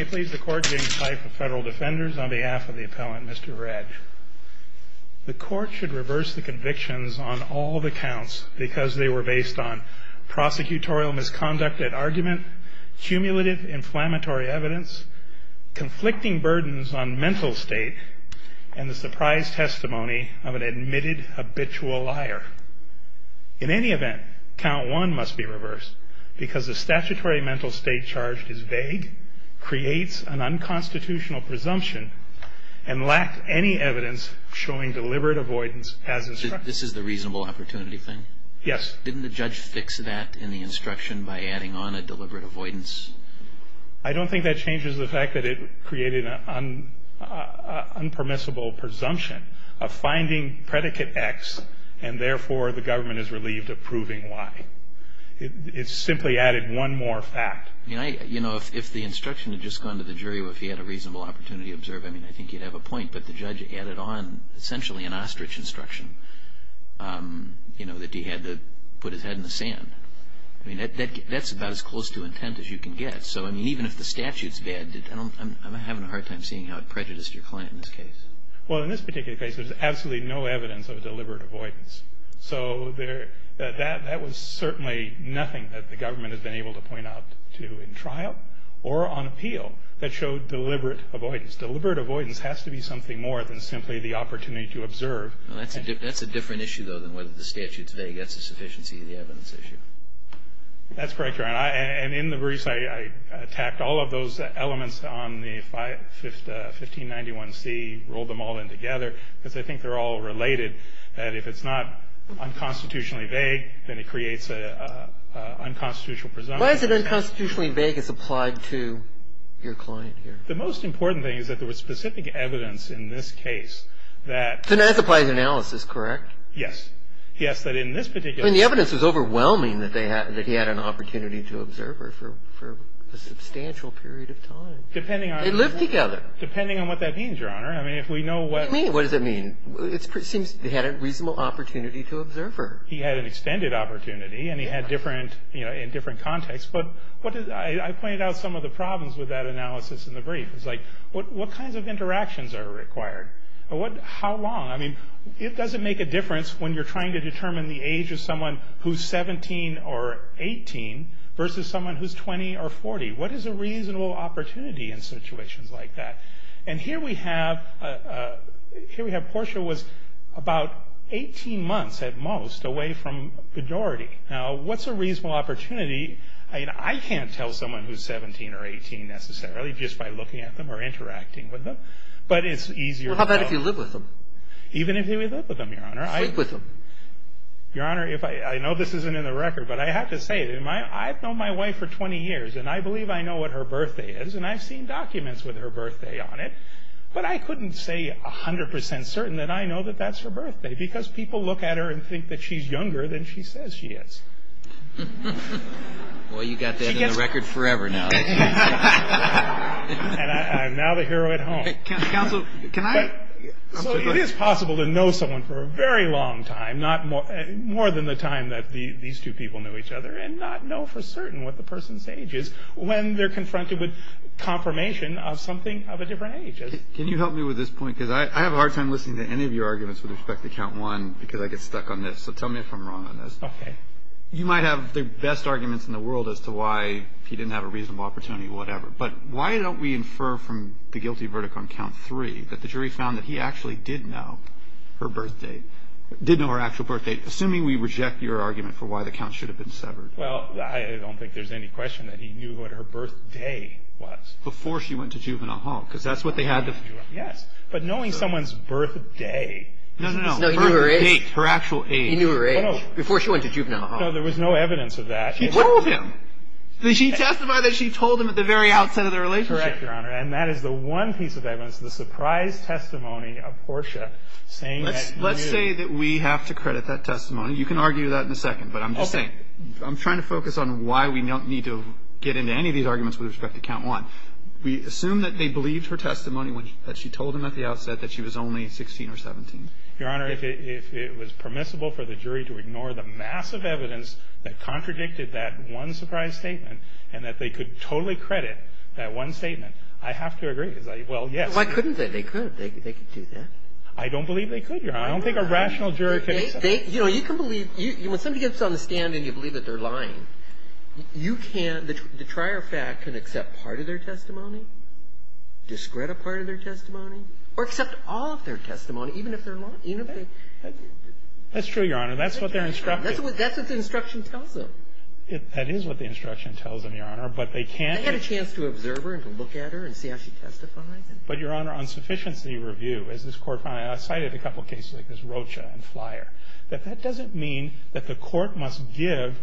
I please the court to give the tithe of federal defenders on behalf of the appellant Mr. Redd. The court should reverse the convictions on all the counts because they were based on prosecutorial misconduct at argument, cumulative inflammatory evidence, conflicting burdens on mental state, and the surprise testimony of an admitted habitual liar. In any event, count one must be reversed because the statutory mental state charged is vague, creates an unconstitutional presumption, and lacks any evidence showing deliberate avoidance as instructed. This is the reasonable opportunity thing? Yes. Didn't the judge fix that in the instruction by adding on a deliberate avoidance? I don't think that changes the fact that it created an unpermissible presumption of finding predicate X and therefore the government is relieved of proving Y. It simply added one more fact. You know, if the instruction had just gone to the jury or if he had a reasonable opportunity to observe, I mean, I think he'd have a point. But the judge added on essentially an ostrich instruction, you know, that he had to put his head in the sand. I mean, that's about as close to intent as you can get. So, I mean, even if the statute's bad, I'm having a hard time seeing how it prejudiced your client in this case. Well, in this particular case, there's absolutely no evidence of deliberate avoidance. So that was certainly nothing that the government has been able to point out to in trial or on appeal that showed deliberate avoidance. Deliberate avoidance has to be something more than simply the opportunity to observe. That's a different issue, though, than whether the statute's vague. That's a sufficiency of the evidence issue. That's correct, Your Honor. And in the briefs, I tacked all of those elements on the 1591C, rolled them all in together, because I think they're all related, that if it's not unconstitutionally vague, then it creates an unconstitutional presumption. Why is it unconstitutionally vague as applied to your client here? The most important thing is that there was specific evidence in this case that So that's applied to analysis, correct? Yes. Yes, that in this particular I mean, the evidence was overwhelming that he had an opportunity to observe her for a substantial period of time. Depending on They lived together. Depending on what that means, Your Honor. I mean, if we know what What do you mean, what does that mean? It seems they had a reasonable opportunity to observe her. He had an extended opportunity, and he had different, you know, in different contexts. But I pointed out some of the problems with that analysis in the brief. It's like, what kinds of interactions are required? How long? I mean, it doesn't make a difference when you're trying to determine the age of someone who's 17 or 18 versus someone who's 20 or 40. What is a reasonable opportunity in situations like that? And here we have Portia was about 18 months at most away from majority. Now, what's a reasonable opportunity? I mean, I can't tell someone who's 17 or 18 necessarily just by looking at them or interacting with them. But it's easier to tell. Even if you live with them, Your Honor. Sleep with them. Your Honor, I know this isn't in the record, but I have to say, I've known my wife for 20 years, and I believe I know what her birthday is, and I've seen documents with her birthday on it. But I couldn't say 100% certain that I know that that's her birthday, because people look at her and think that she's younger than she says she is. Well, you've got that in the record forever now. And I'm now the hero at home. Counsel, can I? So it is possible to know someone for a very long time, more than the time that these two people knew each other, and not know for certain what the person's age is when they're confronted with confirmation of something of a different age. Can you help me with this point? Because I have a hard time listening to any of your arguments with respect to Count 1 because I get stuck on this. So tell me if I'm wrong on this. Okay. You might have the best arguments in the world as to why he didn't have a reasonable opportunity, whatever. But why don't we infer from the guilty verdict on Count 3 that the jury found that he actually did know her birth date, did know her actual birth date, assuming we reject your argument for why the count should have been severed. Well, I don't think there's any question that he knew what her birthday was. Before she went to juvenile hall, because that's what they had to. Yes. But knowing someone's birthday. No, no, no. No, he knew her age. Her actual age. He knew her age. Before she went to juvenile hall. No, there was no evidence of that. She told him. Did she testify that she told him at the very outset of the relationship? Correct, Your Honor. And that is the one piece of evidence, the surprise testimony of Portia saying that he knew. Let's say that we have to credit that testimony. You can argue that in a second. But I'm just saying. Okay. I'm trying to focus on why we don't need to get into any of these arguments with respect to Count 1. We assume that they believed her testimony when she told him at the outset that she was only 16 or 17. Your Honor, if it was permissible for the jury to ignore the massive evidence that contradicted that one surprise statement, and that they could totally credit that one statement, I have to agree. Well, yes. Why couldn't they? They could. They could do that. I don't believe they could, Your Honor. I don't think a rational jury can accept that. You know, you can believe. When somebody gets on the stand and you believe that they're lying, you can't. The trier of fact can accept part of their testimony, discredit part of their testimony, or accept all of their testimony, even if they're lying. That's true, Your Honor. That's what they're instructed. That's what the instruction tells them. That is what the instruction tells them, Your Honor. But they can't. They had a chance to observe her and to look at her and see how she testified. But, Your Honor, on sufficiency review, as this Court cited a couple of cases like this Rocha and Flyer, that that doesn't mean that the Court must give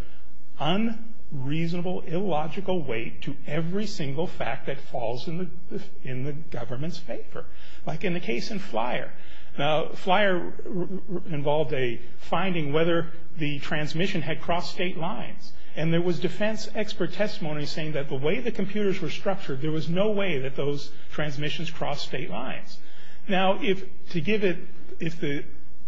unreasonable, illogical weight to every single fact that falls in the government's favor. Like in the case in Flyer. Now, Flyer involved a finding whether the transmission had crossed state lines. And there was defense expert testimony saying that the way the computers were structured, there was no way that those transmissions crossed state lines. Now, to give it, if the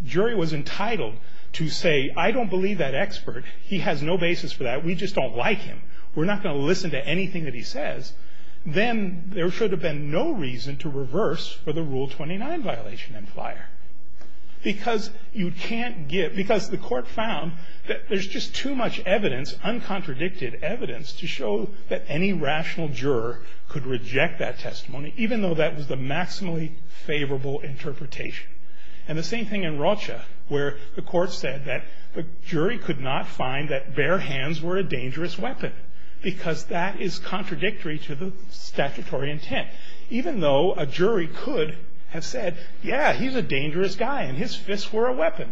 jury was entitled to say, I don't believe that expert, he has no basis for that, we just don't like him, we're not going to listen to anything that he says, then there should have been no reason to reverse for the Rule 29 violation in Flyer. Because you can't give, because the Court found that there's just too much evidence, uncontradicted evidence, to show that any rational juror could reject that testimony, even though that was the maximally favorable interpretation. And the same thing in Rocha, where the Court said that the jury could not find that bare hands were a dangerous weapon, because that is contradictory to the statutory intent. Even though a jury could have said, yeah, he's a dangerous guy, and his fists were a weapon.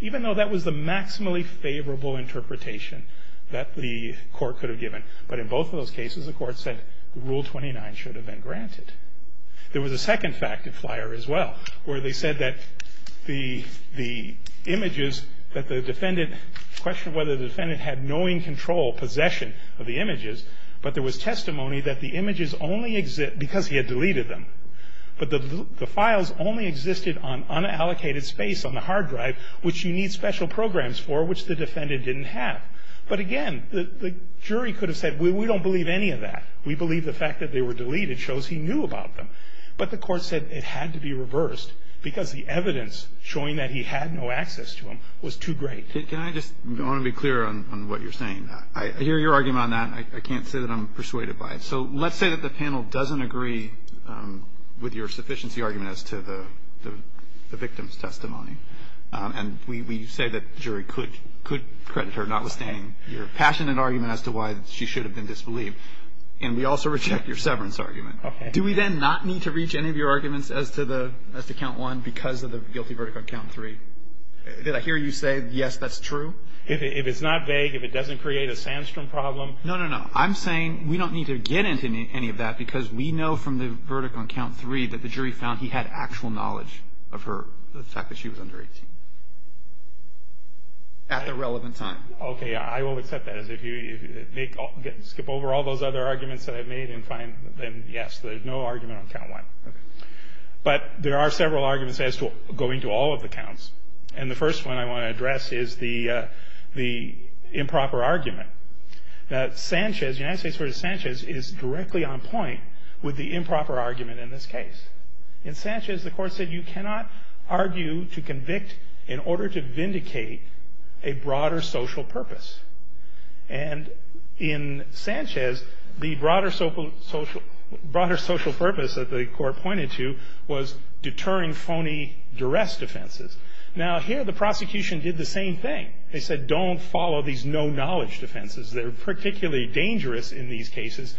Even though that was the maximally favorable interpretation that the Court could have given. But in both of those cases, the Court said Rule 29 should have been granted. There was a second fact in Flyer as well, where they said that the images that the defendant, the question of whether the defendant had knowing control, possession of the images, but there was testimony that the images only exist because he had deleted them. But the files only existed on unallocated space on the hard drive, which you need special programs for, which the defendant didn't have. But again, the jury could have said, we don't believe any of that. We believe the fact that they were deleted shows he knew about them. But the Court said it had to be reversed, because the evidence showing that he had no access to them was too great. Can I just want to be clear on what you're saying? I hear your argument on that. I can't say that I'm persuaded by it. So let's say that the panel doesn't agree with your sufficiency argument as to the victim's testimony. And we say that the jury could credit her, notwithstanding your passionate argument as to why she should have been disbelieved. And we also reject your severance argument. Do we then not need to reach any of your arguments as to Count 1 because of the guilty verdict on Count 3? Did I hear you say, yes, that's true? If it's not vague, if it doesn't create a Sandstrom problem. No, no, no. I'm saying we don't need to get into any of that because we know from the verdict on Count 3 that the jury found he had actual knowledge of her, the fact that she was under 18, at the relevant time. Okay. I will accept that. If you skip over all those other arguments that I've made and find them, yes, there's no argument on Count 1. Okay. But there are several arguments as to going to all of the counts. And the first one I want to address is the improper argument. Now, Sanchez, United States versus Sanchez, is directly on point with the improper argument in this case. In Sanchez, the court said you cannot argue to convict in order to vindicate a broader social purpose. And in Sanchez, the broader social purpose that the court pointed to was deterring phony duress defenses. Now, here the prosecution did the same thing. They said, don't follow these no-knowledge defenses. They're particularly dangerous in these cases.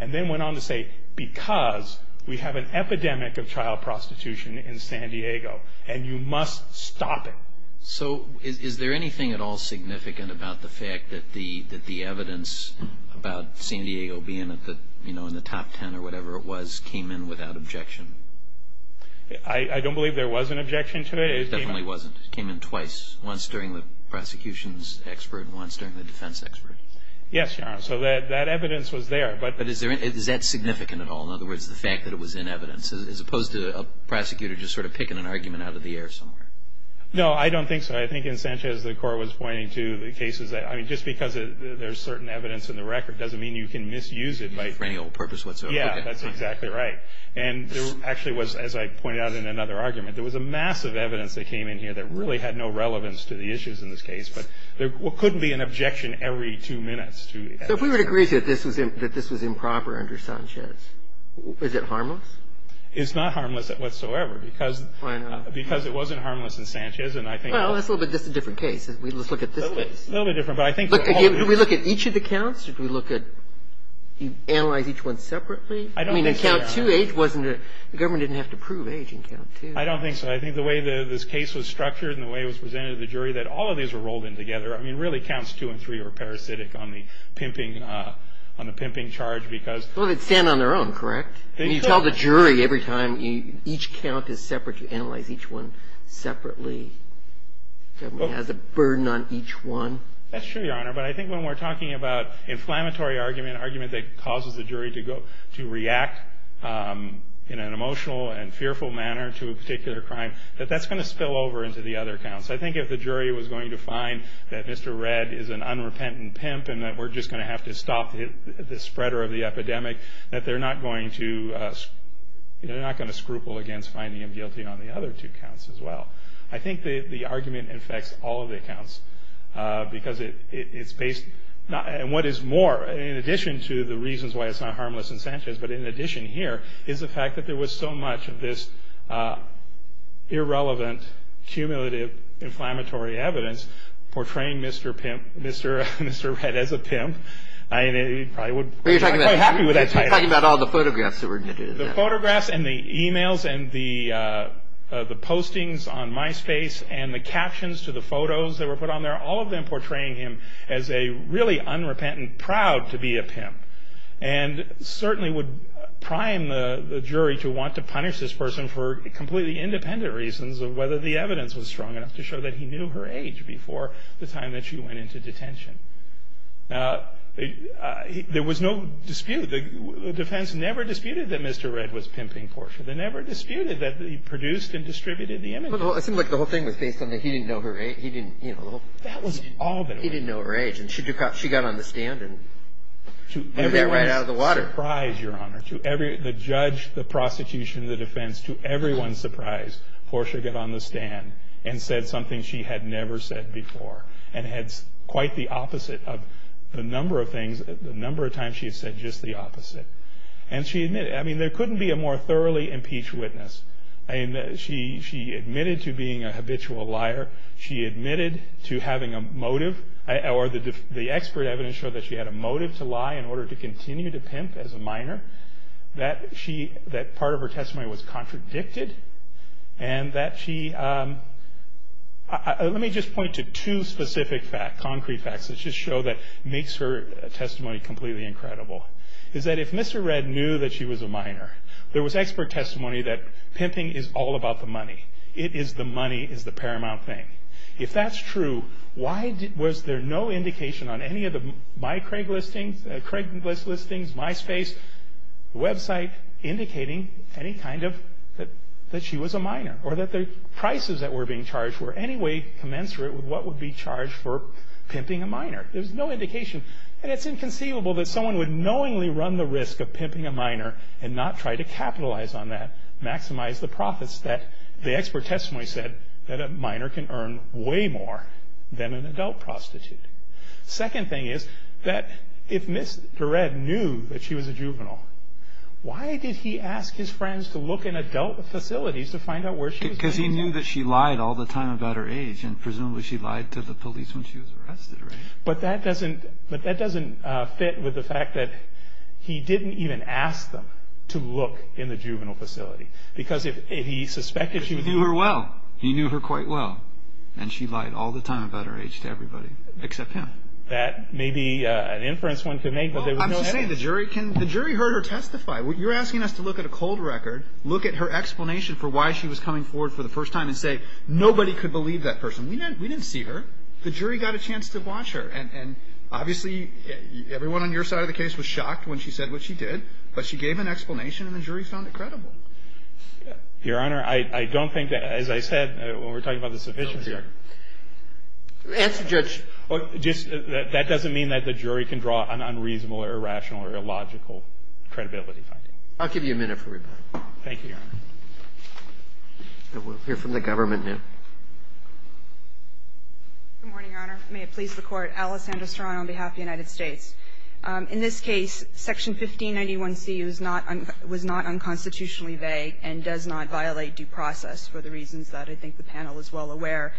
And then went on to say, because we have an epidemic of child prostitution in San Diego, and you must stop it. So is there anything at all significant about the fact that the evidence about San Diego being, you know, in the top ten or whatever it was, came in without objection? I don't believe there was an objection to it. It definitely wasn't. It came in twice, once during the prosecution's expert and once during the defense expert. Yes, Your Honor. So that evidence was there. But is that significant at all, in other words, the fact that it was in evidence, as opposed to a prosecutor just sort of picking an argument out of the air somewhere? No, I don't think so. I think in Sanchez the court was pointing to the cases that, I mean, just because there's certain evidence in the record doesn't mean you can misuse it. For any old purpose whatsoever. Yeah, that's exactly right. And there actually was, as I pointed out in another argument, there was a mass of evidence that came in here that really had no relevance to the issues in this case. But there couldn't be an objection every two minutes. So if we would agree that this was improper under Sanchez, is it harmless? It's not harmless whatsoever. I know. Because it wasn't harmless in Sanchez. Well, that's a little bit different case. Let's look at this case. It's a little bit different. But I think that all of these. Could we look at each of the counts? Could we look at, analyze each one separately? I don't think so, Your Honor. I mean, in count two, the government didn't have to prove age in count two. I don't think so. I think the way this case was structured and the way it was presented to the jury, that all of these were rolled in together. I mean, really counts two and three were parasitic on the pimping charge because. Well, they'd stand on their own, correct? You tell the jury every time each count is separate. You analyze each one separately. The government has a burden on each one. That's true, Your Honor. But I think when we're talking about inflammatory argument, argument that causes the jury to react in an emotional and fearful manner to a particular crime, that that's going to spill over into the other counts. I think if the jury was going to find that Mr. Red is an unrepentant pimp and that we're just going to have to stop the spreader of the epidemic, that they're not going to scruple against finding him guilty on the other two counts as well. I think the argument affects all of the accounts because it's based. And what is more, in addition to the reasons why it's not harmless in Sanchez, but in addition here is the fact that there was so much of this irrelevant, cumulative, inflammatory evidence portraying Mr. Red as a pimp. I'm quite happy with that title. You're talking about all the photographs that were edited. The photographs and the e-mails and the postings on MySpace and the captions to the photos that were put on there, all of them portraying him as a really unrepentant, proud-to-be-a-pimp. And certainly would prime the jury to want to punish this person for completely independent reasons of whether the evidence was strong enough to show that he knew her age before the time that she went into detention. Now, there was no dispute. The defense never disputed that Mr. Red was pimping Portia. They never disputed that he produced and distributed the images. It seemed like the whole thing was based on that he didn't know her age. He didn't, you know, he didn't know her age. And she got on the stand and got right out of the water. To everyone's surprise, Your Honor, to the judge, the prosecution, the defense, to everyone's surprise, Portia got on the stand and said something she had never said before and had quite the opposite of the number of things, the number of times she had said just the opposite. And she admitted, I mean, there couldn't be a more thoroughly impeached witness. I mean, she admitted to being a habitual liar. She admitted to having a motive, or the expert evidence showed that she had a motive to lie in order to continue to pimp as a minor, that part of her testimony was contradicted, and that she, let me just point to two specific facts, concrete facts, that just show that makes her testimony completely incredible. Is that if Mr. Red knew that she was a minor, there was expert testimony that pimping is all about the money. It is the money is the paramount thing. If that's true, why was there no indication on any of my Craig listings, Craig's listings, MySpace, website, indicating any kind of that she was a minor, or that the prices that were being charged were anyway commensurate with what would be charged for pimping a minor. There's no indication, and it's inconceivable that someone would knowingly run the risk of pimping a minor and not try to capitalize on that, maximize the profits that the expert testimony said that a minor can earn way more than an adult prostitute. Second thing is that if Mr. Red knew that she was a juvenile, why did he ask his friends to look in adult facilities to find out where she was being held? Because he knew that she lied all the time about her age, and presumably she lied to the police when she was arrested, right? But that doesn't fit with the fact that he didn't even ask them to look in the juvenile facility, because if he suspected she was... Because he knew her well, he knew her quite well, and she lied all the time about her age to everybody except him. That may be an inference one could make, but there was no evidence. I'm just saying the jury heard her testify. You're asking us to look at a cold record, look at her explanation for why she was coming forward for the first time, and say nobody could believe that person. We didn't see her. The jury got a chance to watch her, and obviously everyone on your side of the case was shocked when she said what she did, but she gave an explanation, and the jury found it credible. Your Honor, I don't think that, as I said, when we're talking about the sufficiency... Answer, Judge. That doesn't mean that the jury can draw an unreasonable or irrational or illogical credibility finding. I'll give you a minute for rebuttal. Thank you, Your Honor. We'll hear from the government now. Good morning, Your Honor. May it please the Court. Alice Andrews-Tron on behalf of the United States. In this case, Section 1591C was not unconstitutionally vague and does not violate due process for the reasons that I think the panel is well aware.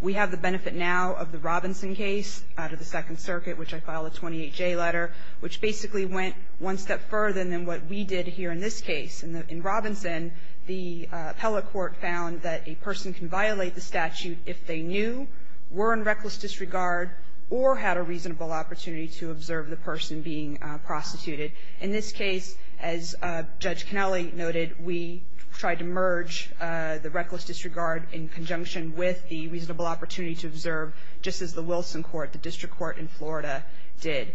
We have the benefit now of the Robinson case out of the Second Circuit, which I file a 28J letter, which basically went one step further than what we did here in this case. In Robinson, the appellate court found that a person can violate the statute if they knew, were in reckless disregard, or had a reasonable opportunity to observe the person being prostituted. In this case, as Judge Connelly noted, we tried to merge the reckless disregard in conjunction with the reasonable opportunity to observe, just as the Wilson Court, the district court in Florida, did.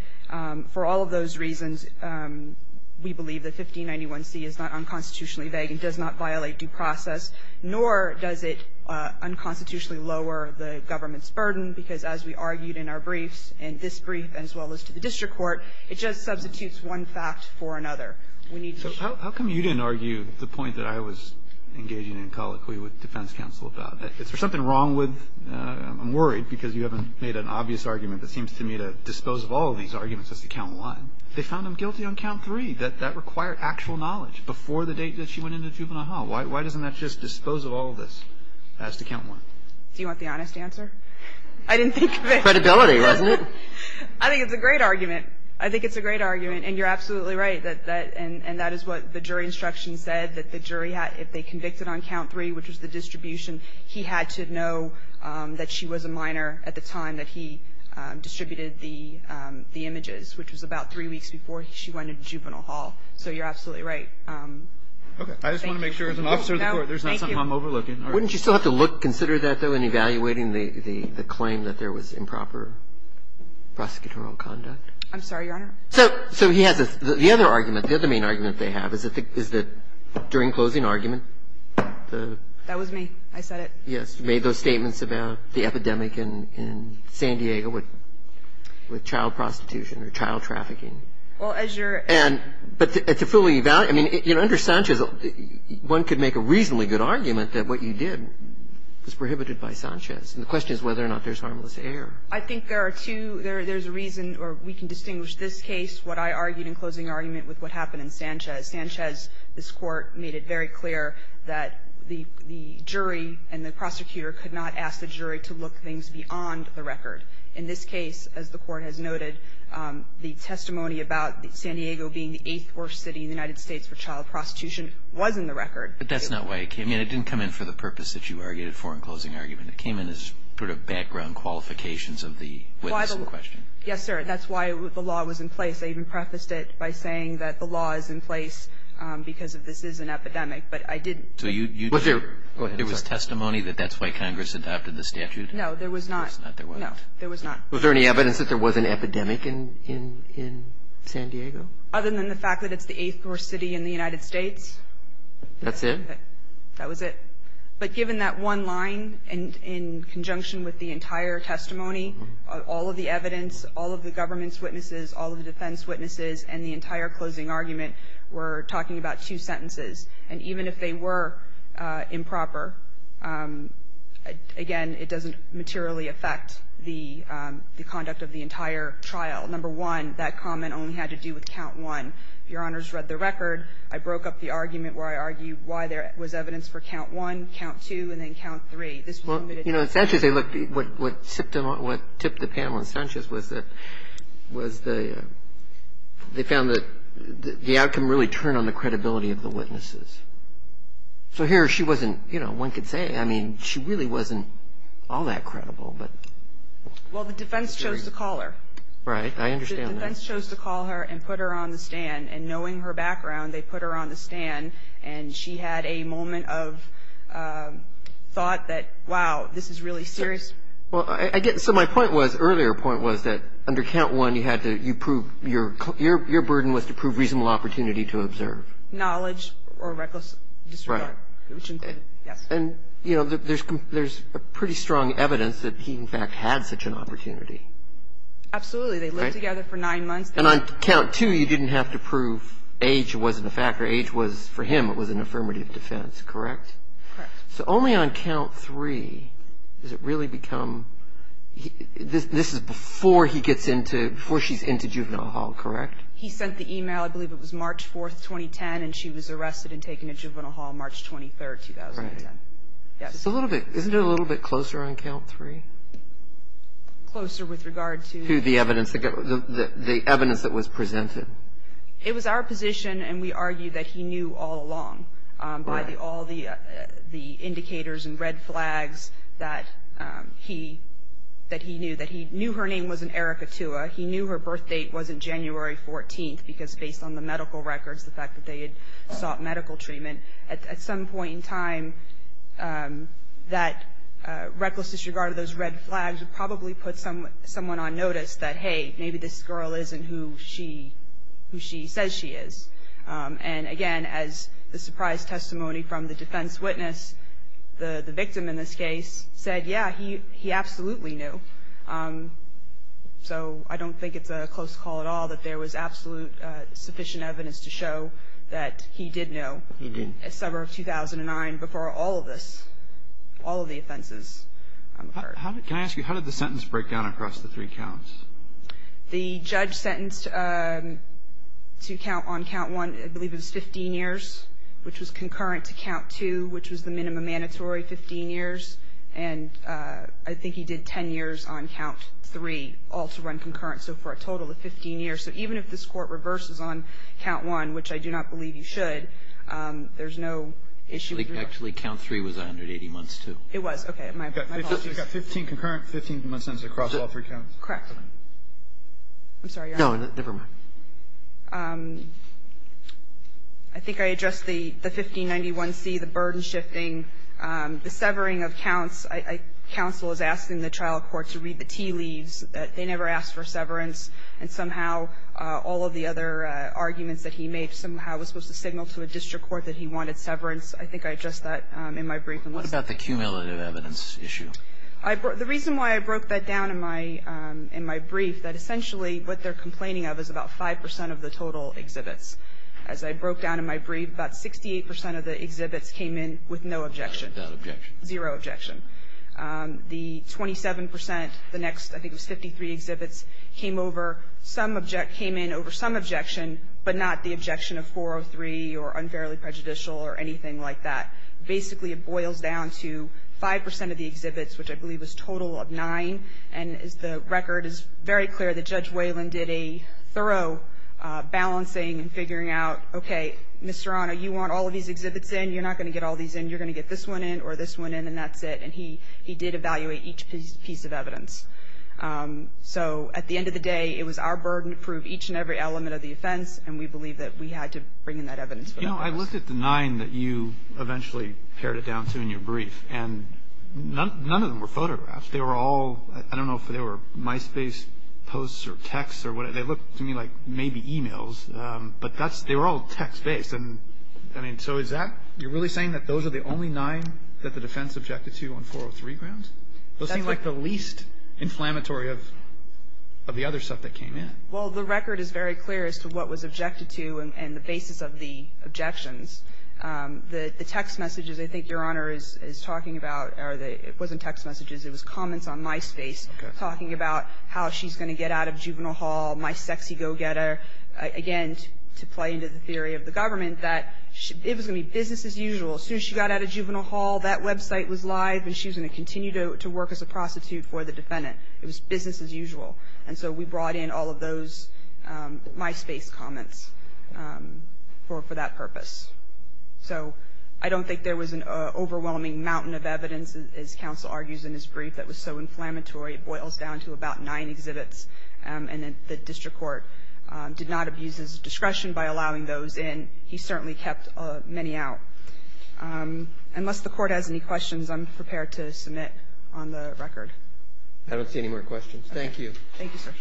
For all of those reasons, we believe that 1591C is not unconstitutionally vague and does not violate due process, nor does it unconstitutionally lower the government's burden, because as we argued in our briefs, in this brief as well as to the district court, it just substitutes one fact for another. We need to show that. Roberts. So how come you didn't argue the point that I was engaging in colloquially with defense counsel about? Is there something wrong with, I'm worried because you haven't made an obvious argument that seems to me to dispose of all of these arguments as to count one. They found him guilty on count three. I'm wondering if you can tell me that that required actual knowledge before the date that she went into juvenile hall. Why doesn't that just dispose of all of this as to count one? Do you want the honest answer? I didn't think of it. Credibility, wasn't it? I think it's a great argument. I think it's a great argument, and you're absolutely right. And that is what the jury instruction said, that the jury had, if they convicted on count three, which was the distribution, he had to know that she was a minor at the time that he distributed the images, which was about three weeks before she went into juvenile hall. So you're absolutely right. Okay. I just want to make sure, as an officer of the court, there's not something I'm overlooking. Wouldn't you still have to consider that, though, in evaluating the claim that there was improper prosecutorial conduct? I'm sorry, Your Honor. So he has the other argument. The other main argument they have is that during closing argument, the – That was me. I said it. Yes. You made those statements about the epidemic in San Diego with child prostitution or child trafficking. Well, as your – But to fully evaluate – I mean, under Sanchez, one could make a reasonably good argument that what you did was prohibited by Sanchez. And the question is whether or not there's harmless error. I think there are two – there's a reason, or we can distinguish this case, what I argued in closing argument with what happened in Sanchez. Sanchez, this Court, made it very clear that the jury and the prosecutor could not ask the jury to look things beyond the record. In this case, as the Court has noted, the testimony about San Diego being the eighth worst city in the United States for child prostitution was in the record. But that's not why it came in. It didn't come in for the purpose that you argued it for in closing argument. It came in as sort of background qualifications of the witness in question. Yes, sir. That's why the law was in place. I even prefaced it by saying that the law is in place because this is an epidemic. But I didn't – So you – Go ahead, sir. There was testimony that that's why Congress adopted the statute? No, there was not. No, there was not. Was there any evidence that there was an epidemic in San Diego? Other than the fact that it's the eighth worst city in the United States. That's it? That was it. But given that one line in conjunction with the entire testimony, all of the evidence, all of the government's witnesses, all of the defense witnesses, and the entire closing argument were talking about two sentences. And even if they were improper, again, it doesn't materially affect the conduct of the entire trial. Number one, that comment only had to do with count one. If Your Honors read the record, I broke up the argument where I argued why there was evidence for count one, count two, and then count three. This was limited to two. Well, you know, in Sanchez, what tipped the panel in Sanchez was that – was the they found that the outcome really turned on the credibility of the witnesses. So here she wasn't – you know, one could say, I mean, she really wasn't all that credible, but. Well, the defense chose to call her. Right. I understand that. The defense chose to call her and put her on the stand. And knowing her background, they put her on the stand. And she had a moment of thought that, wow, this is really serious. Well, I guess – so my point was – earlier point was that under count one, you had to – you proved – your burden was to prove reasonable opportunity to observe. Knowledge or reckless disregard. Right. Yes. And, you know, there's pretty strong evidence that he, in fact, had such an opportunity. Absolutely. They lived together for nine months. And on count two, you didn't have to prove age wasn't a factor. Age was – for him, it was an affirmative defense. Correct? Correct. So only on count three does it really become – this is before he gets into – before she's into juvenile hall, correct? He sent the email. I believe it was March 4th, 2010, and she was arrested and taken to juvenile hall March 23rd, 2010. Right. Yes. So a little bit – isn't it a little bit closer on count three? Closer with regard to – To the evidence – the evidence that was presented. It was our position, and we argued that he knew all along. Right. By all the indicators and red flags that he – that he knew. That he knew her name wasn't Erica Tua. He knew her birth date wasn't January 14th, because based on the medical records, the fact that they had sought medical treatment. At some point in time, that reckless disregard of those red flags would probably put someone on notice that, hey, maybe this girl isn't who she – who she says she is. And, again, as the surprise testimony from the defense witness, the victim in this case said, yeah, he absolutely knew. So I don't think it's a close call at all that there was absolute sufficient evidence to show that he did know. He did. A summer of 2009 before all of this – all of the offenses occurred. Can I ask you, how did the sentence break down across the three counts? The judge sentenced to count on count one, I believe it was 15 years, which was concurrent to count two, which was the minimum mandatory, 15 years. And I think he did 10 years on count three, all to run concurrent. So for a total of 15 years. So even if this Court reverses on count one, which I do not believe you should, there's no issue. Actually, count three was 180 months, too. It was. Okay. We've got 15 concurrent, 15 months across all three counts. Correct. I'm sorry, Your Honor. No, never mind. I think I addressed the 1591C, the burden shifting, the severing of counts. Counsel is asking the trial court to read the tea leaves. They never asked for severance. And somehow all of the other arguments that he made somehow was supposed to signal to a district court that he wanted severance. I think I addressed that in my briefing. What about the cumulative evidence issue? The reason why I broke that down in my brief, that essentially what they're complaining of is about 5 percent of the total exhibits. As I broke down in my brief, about 68 percent of the exhibits came in with no objection. No objection. Zero objection. The 27 percent, the next, I think it was 53 exhibits, came over, some object, came in over some objection, but not the objection of 403 or unfairly prejudicial or anything like that. Basically, it boils down to 5 percent of the exhibits, which I believe was total of nine. And the record is very clear that Judge Whalen did a thorough balancing and figuring out, okay, Mr. Honor, you want all of these exhibits in? You're not going to get all these in. You're going to get this one in or this one in, and that's it. And he did evaluate each piece of evidence. So at the end of the day, it was our burden to prove each and every element of the offense, and we believe that we had to bring in that evidence for that purpose. No, I looked at the nine that you eventually pared it down to in your brief, and none of them were photographs. They were all, I don't know if they were MySpace posts or texts or whatever. They looked to me like maybe e-mails, but that's, they were all text-based. And, I mean, so is that, you're really saying that those are the only nine that the defense objected to on 403 grounds? Those seem like the least inflammatory of the other stuff that came in. Well, the record is very clear as to what was objected to and the basis of the objections. The text messages I think Your Honor is talking about are the, it wasn't text messages, it was comments on MySpace talking about how she's going to get out of juvenile hall, my sexy go-getter. Again, to play into the theory of the government, that it was going to be business as usual. As soon as she got out of juvenile hall, that website was live and she was going to continue to work as a prostitute for the defendant. It was business as usual. And so we brought in all of those MySpace comments for that purpose. So I don't think there was an overwhelming mountain of evidence, as counsel argues in his brief, that was so inflammatory. It boils down to about nine exhibits and the district court did not abuse his discretion by allowing those in. He certainly kept many out. Unless the court has any questions, I'm prepared to submit on the record. I don't see any more questions. Thank you. Thank you, sir.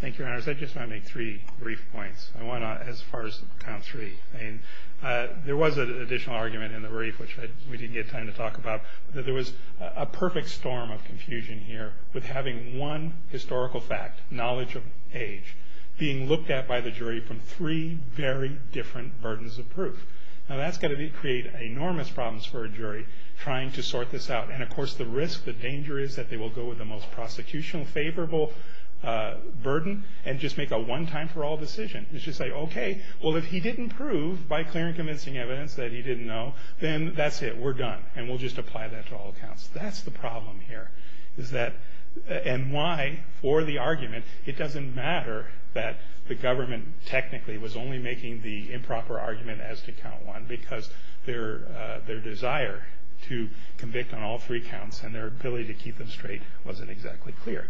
Thank you, Your Honors. I just want to make three brief points. I want to, as far as count three, there was an additional argument in the brief, which we didn't get time to talk about, that there was a perfect storm of confusion here with having one historical fact, knowledge of age, being looked at by the jury from three very different burdens of proof. Now, that's going to create enormous problems for a jury trying to sort this out. And, of course, the risk, the danger is that they will go with the most prosecution-favorable burden and just make a one-time-for-all decision. It's just like, okay, well, if he didn't prove by clear and convincing evidence that he didn't know, then that's it. We're done. And we'll just apply that to all counts. That's the problem here, is that, and why, for the argument, it doesn't matter that the government technically was only making the improper argument as to count one because their desire to convict on all three counts and their ability to keep them straight wasn't exactly clear.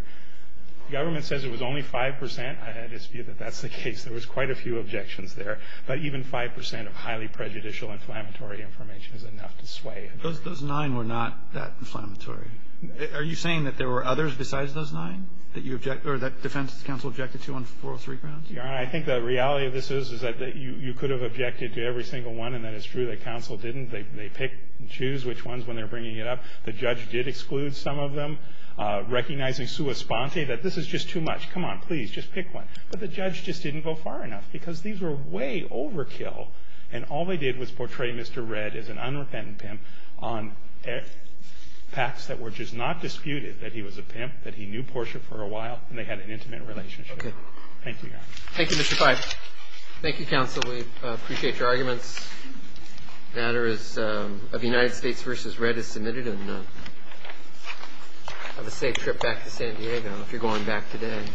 The government says it was only 5%. I had this view that that's the case. There was quite a few objections there. But even 5% of highly prejudicial inflammatory information is enough to sway it. Those nine were not that inflammatory. Are you saying that there were others besides those nine that you object, or that defense counsel objected to on four or three counts? Your Honor, I think the reality of this is that you could have objected to every single one, and that it's true that counsel didn't. They pick and choose which ones when they're bringing it up. The judge did exclude some of them, recognizing sua sponte, that this is just too much. Come on, please, just pick one. But the judge just didn't go far enough because these were way overkill, and all they did was portray Mr. Redd as an unrepentant pimp on facts that were just not disputed, that he was a pimp, that he knew Portia for a while, and they had an intimate relationship. Thank you, Your Honor. Thank you, Mr. Pipe. Thank you, counsel. We appreciate your arguments. The matter of the United States v. Redd is submitted, and have a safe trip back to San Diego if you're going back today.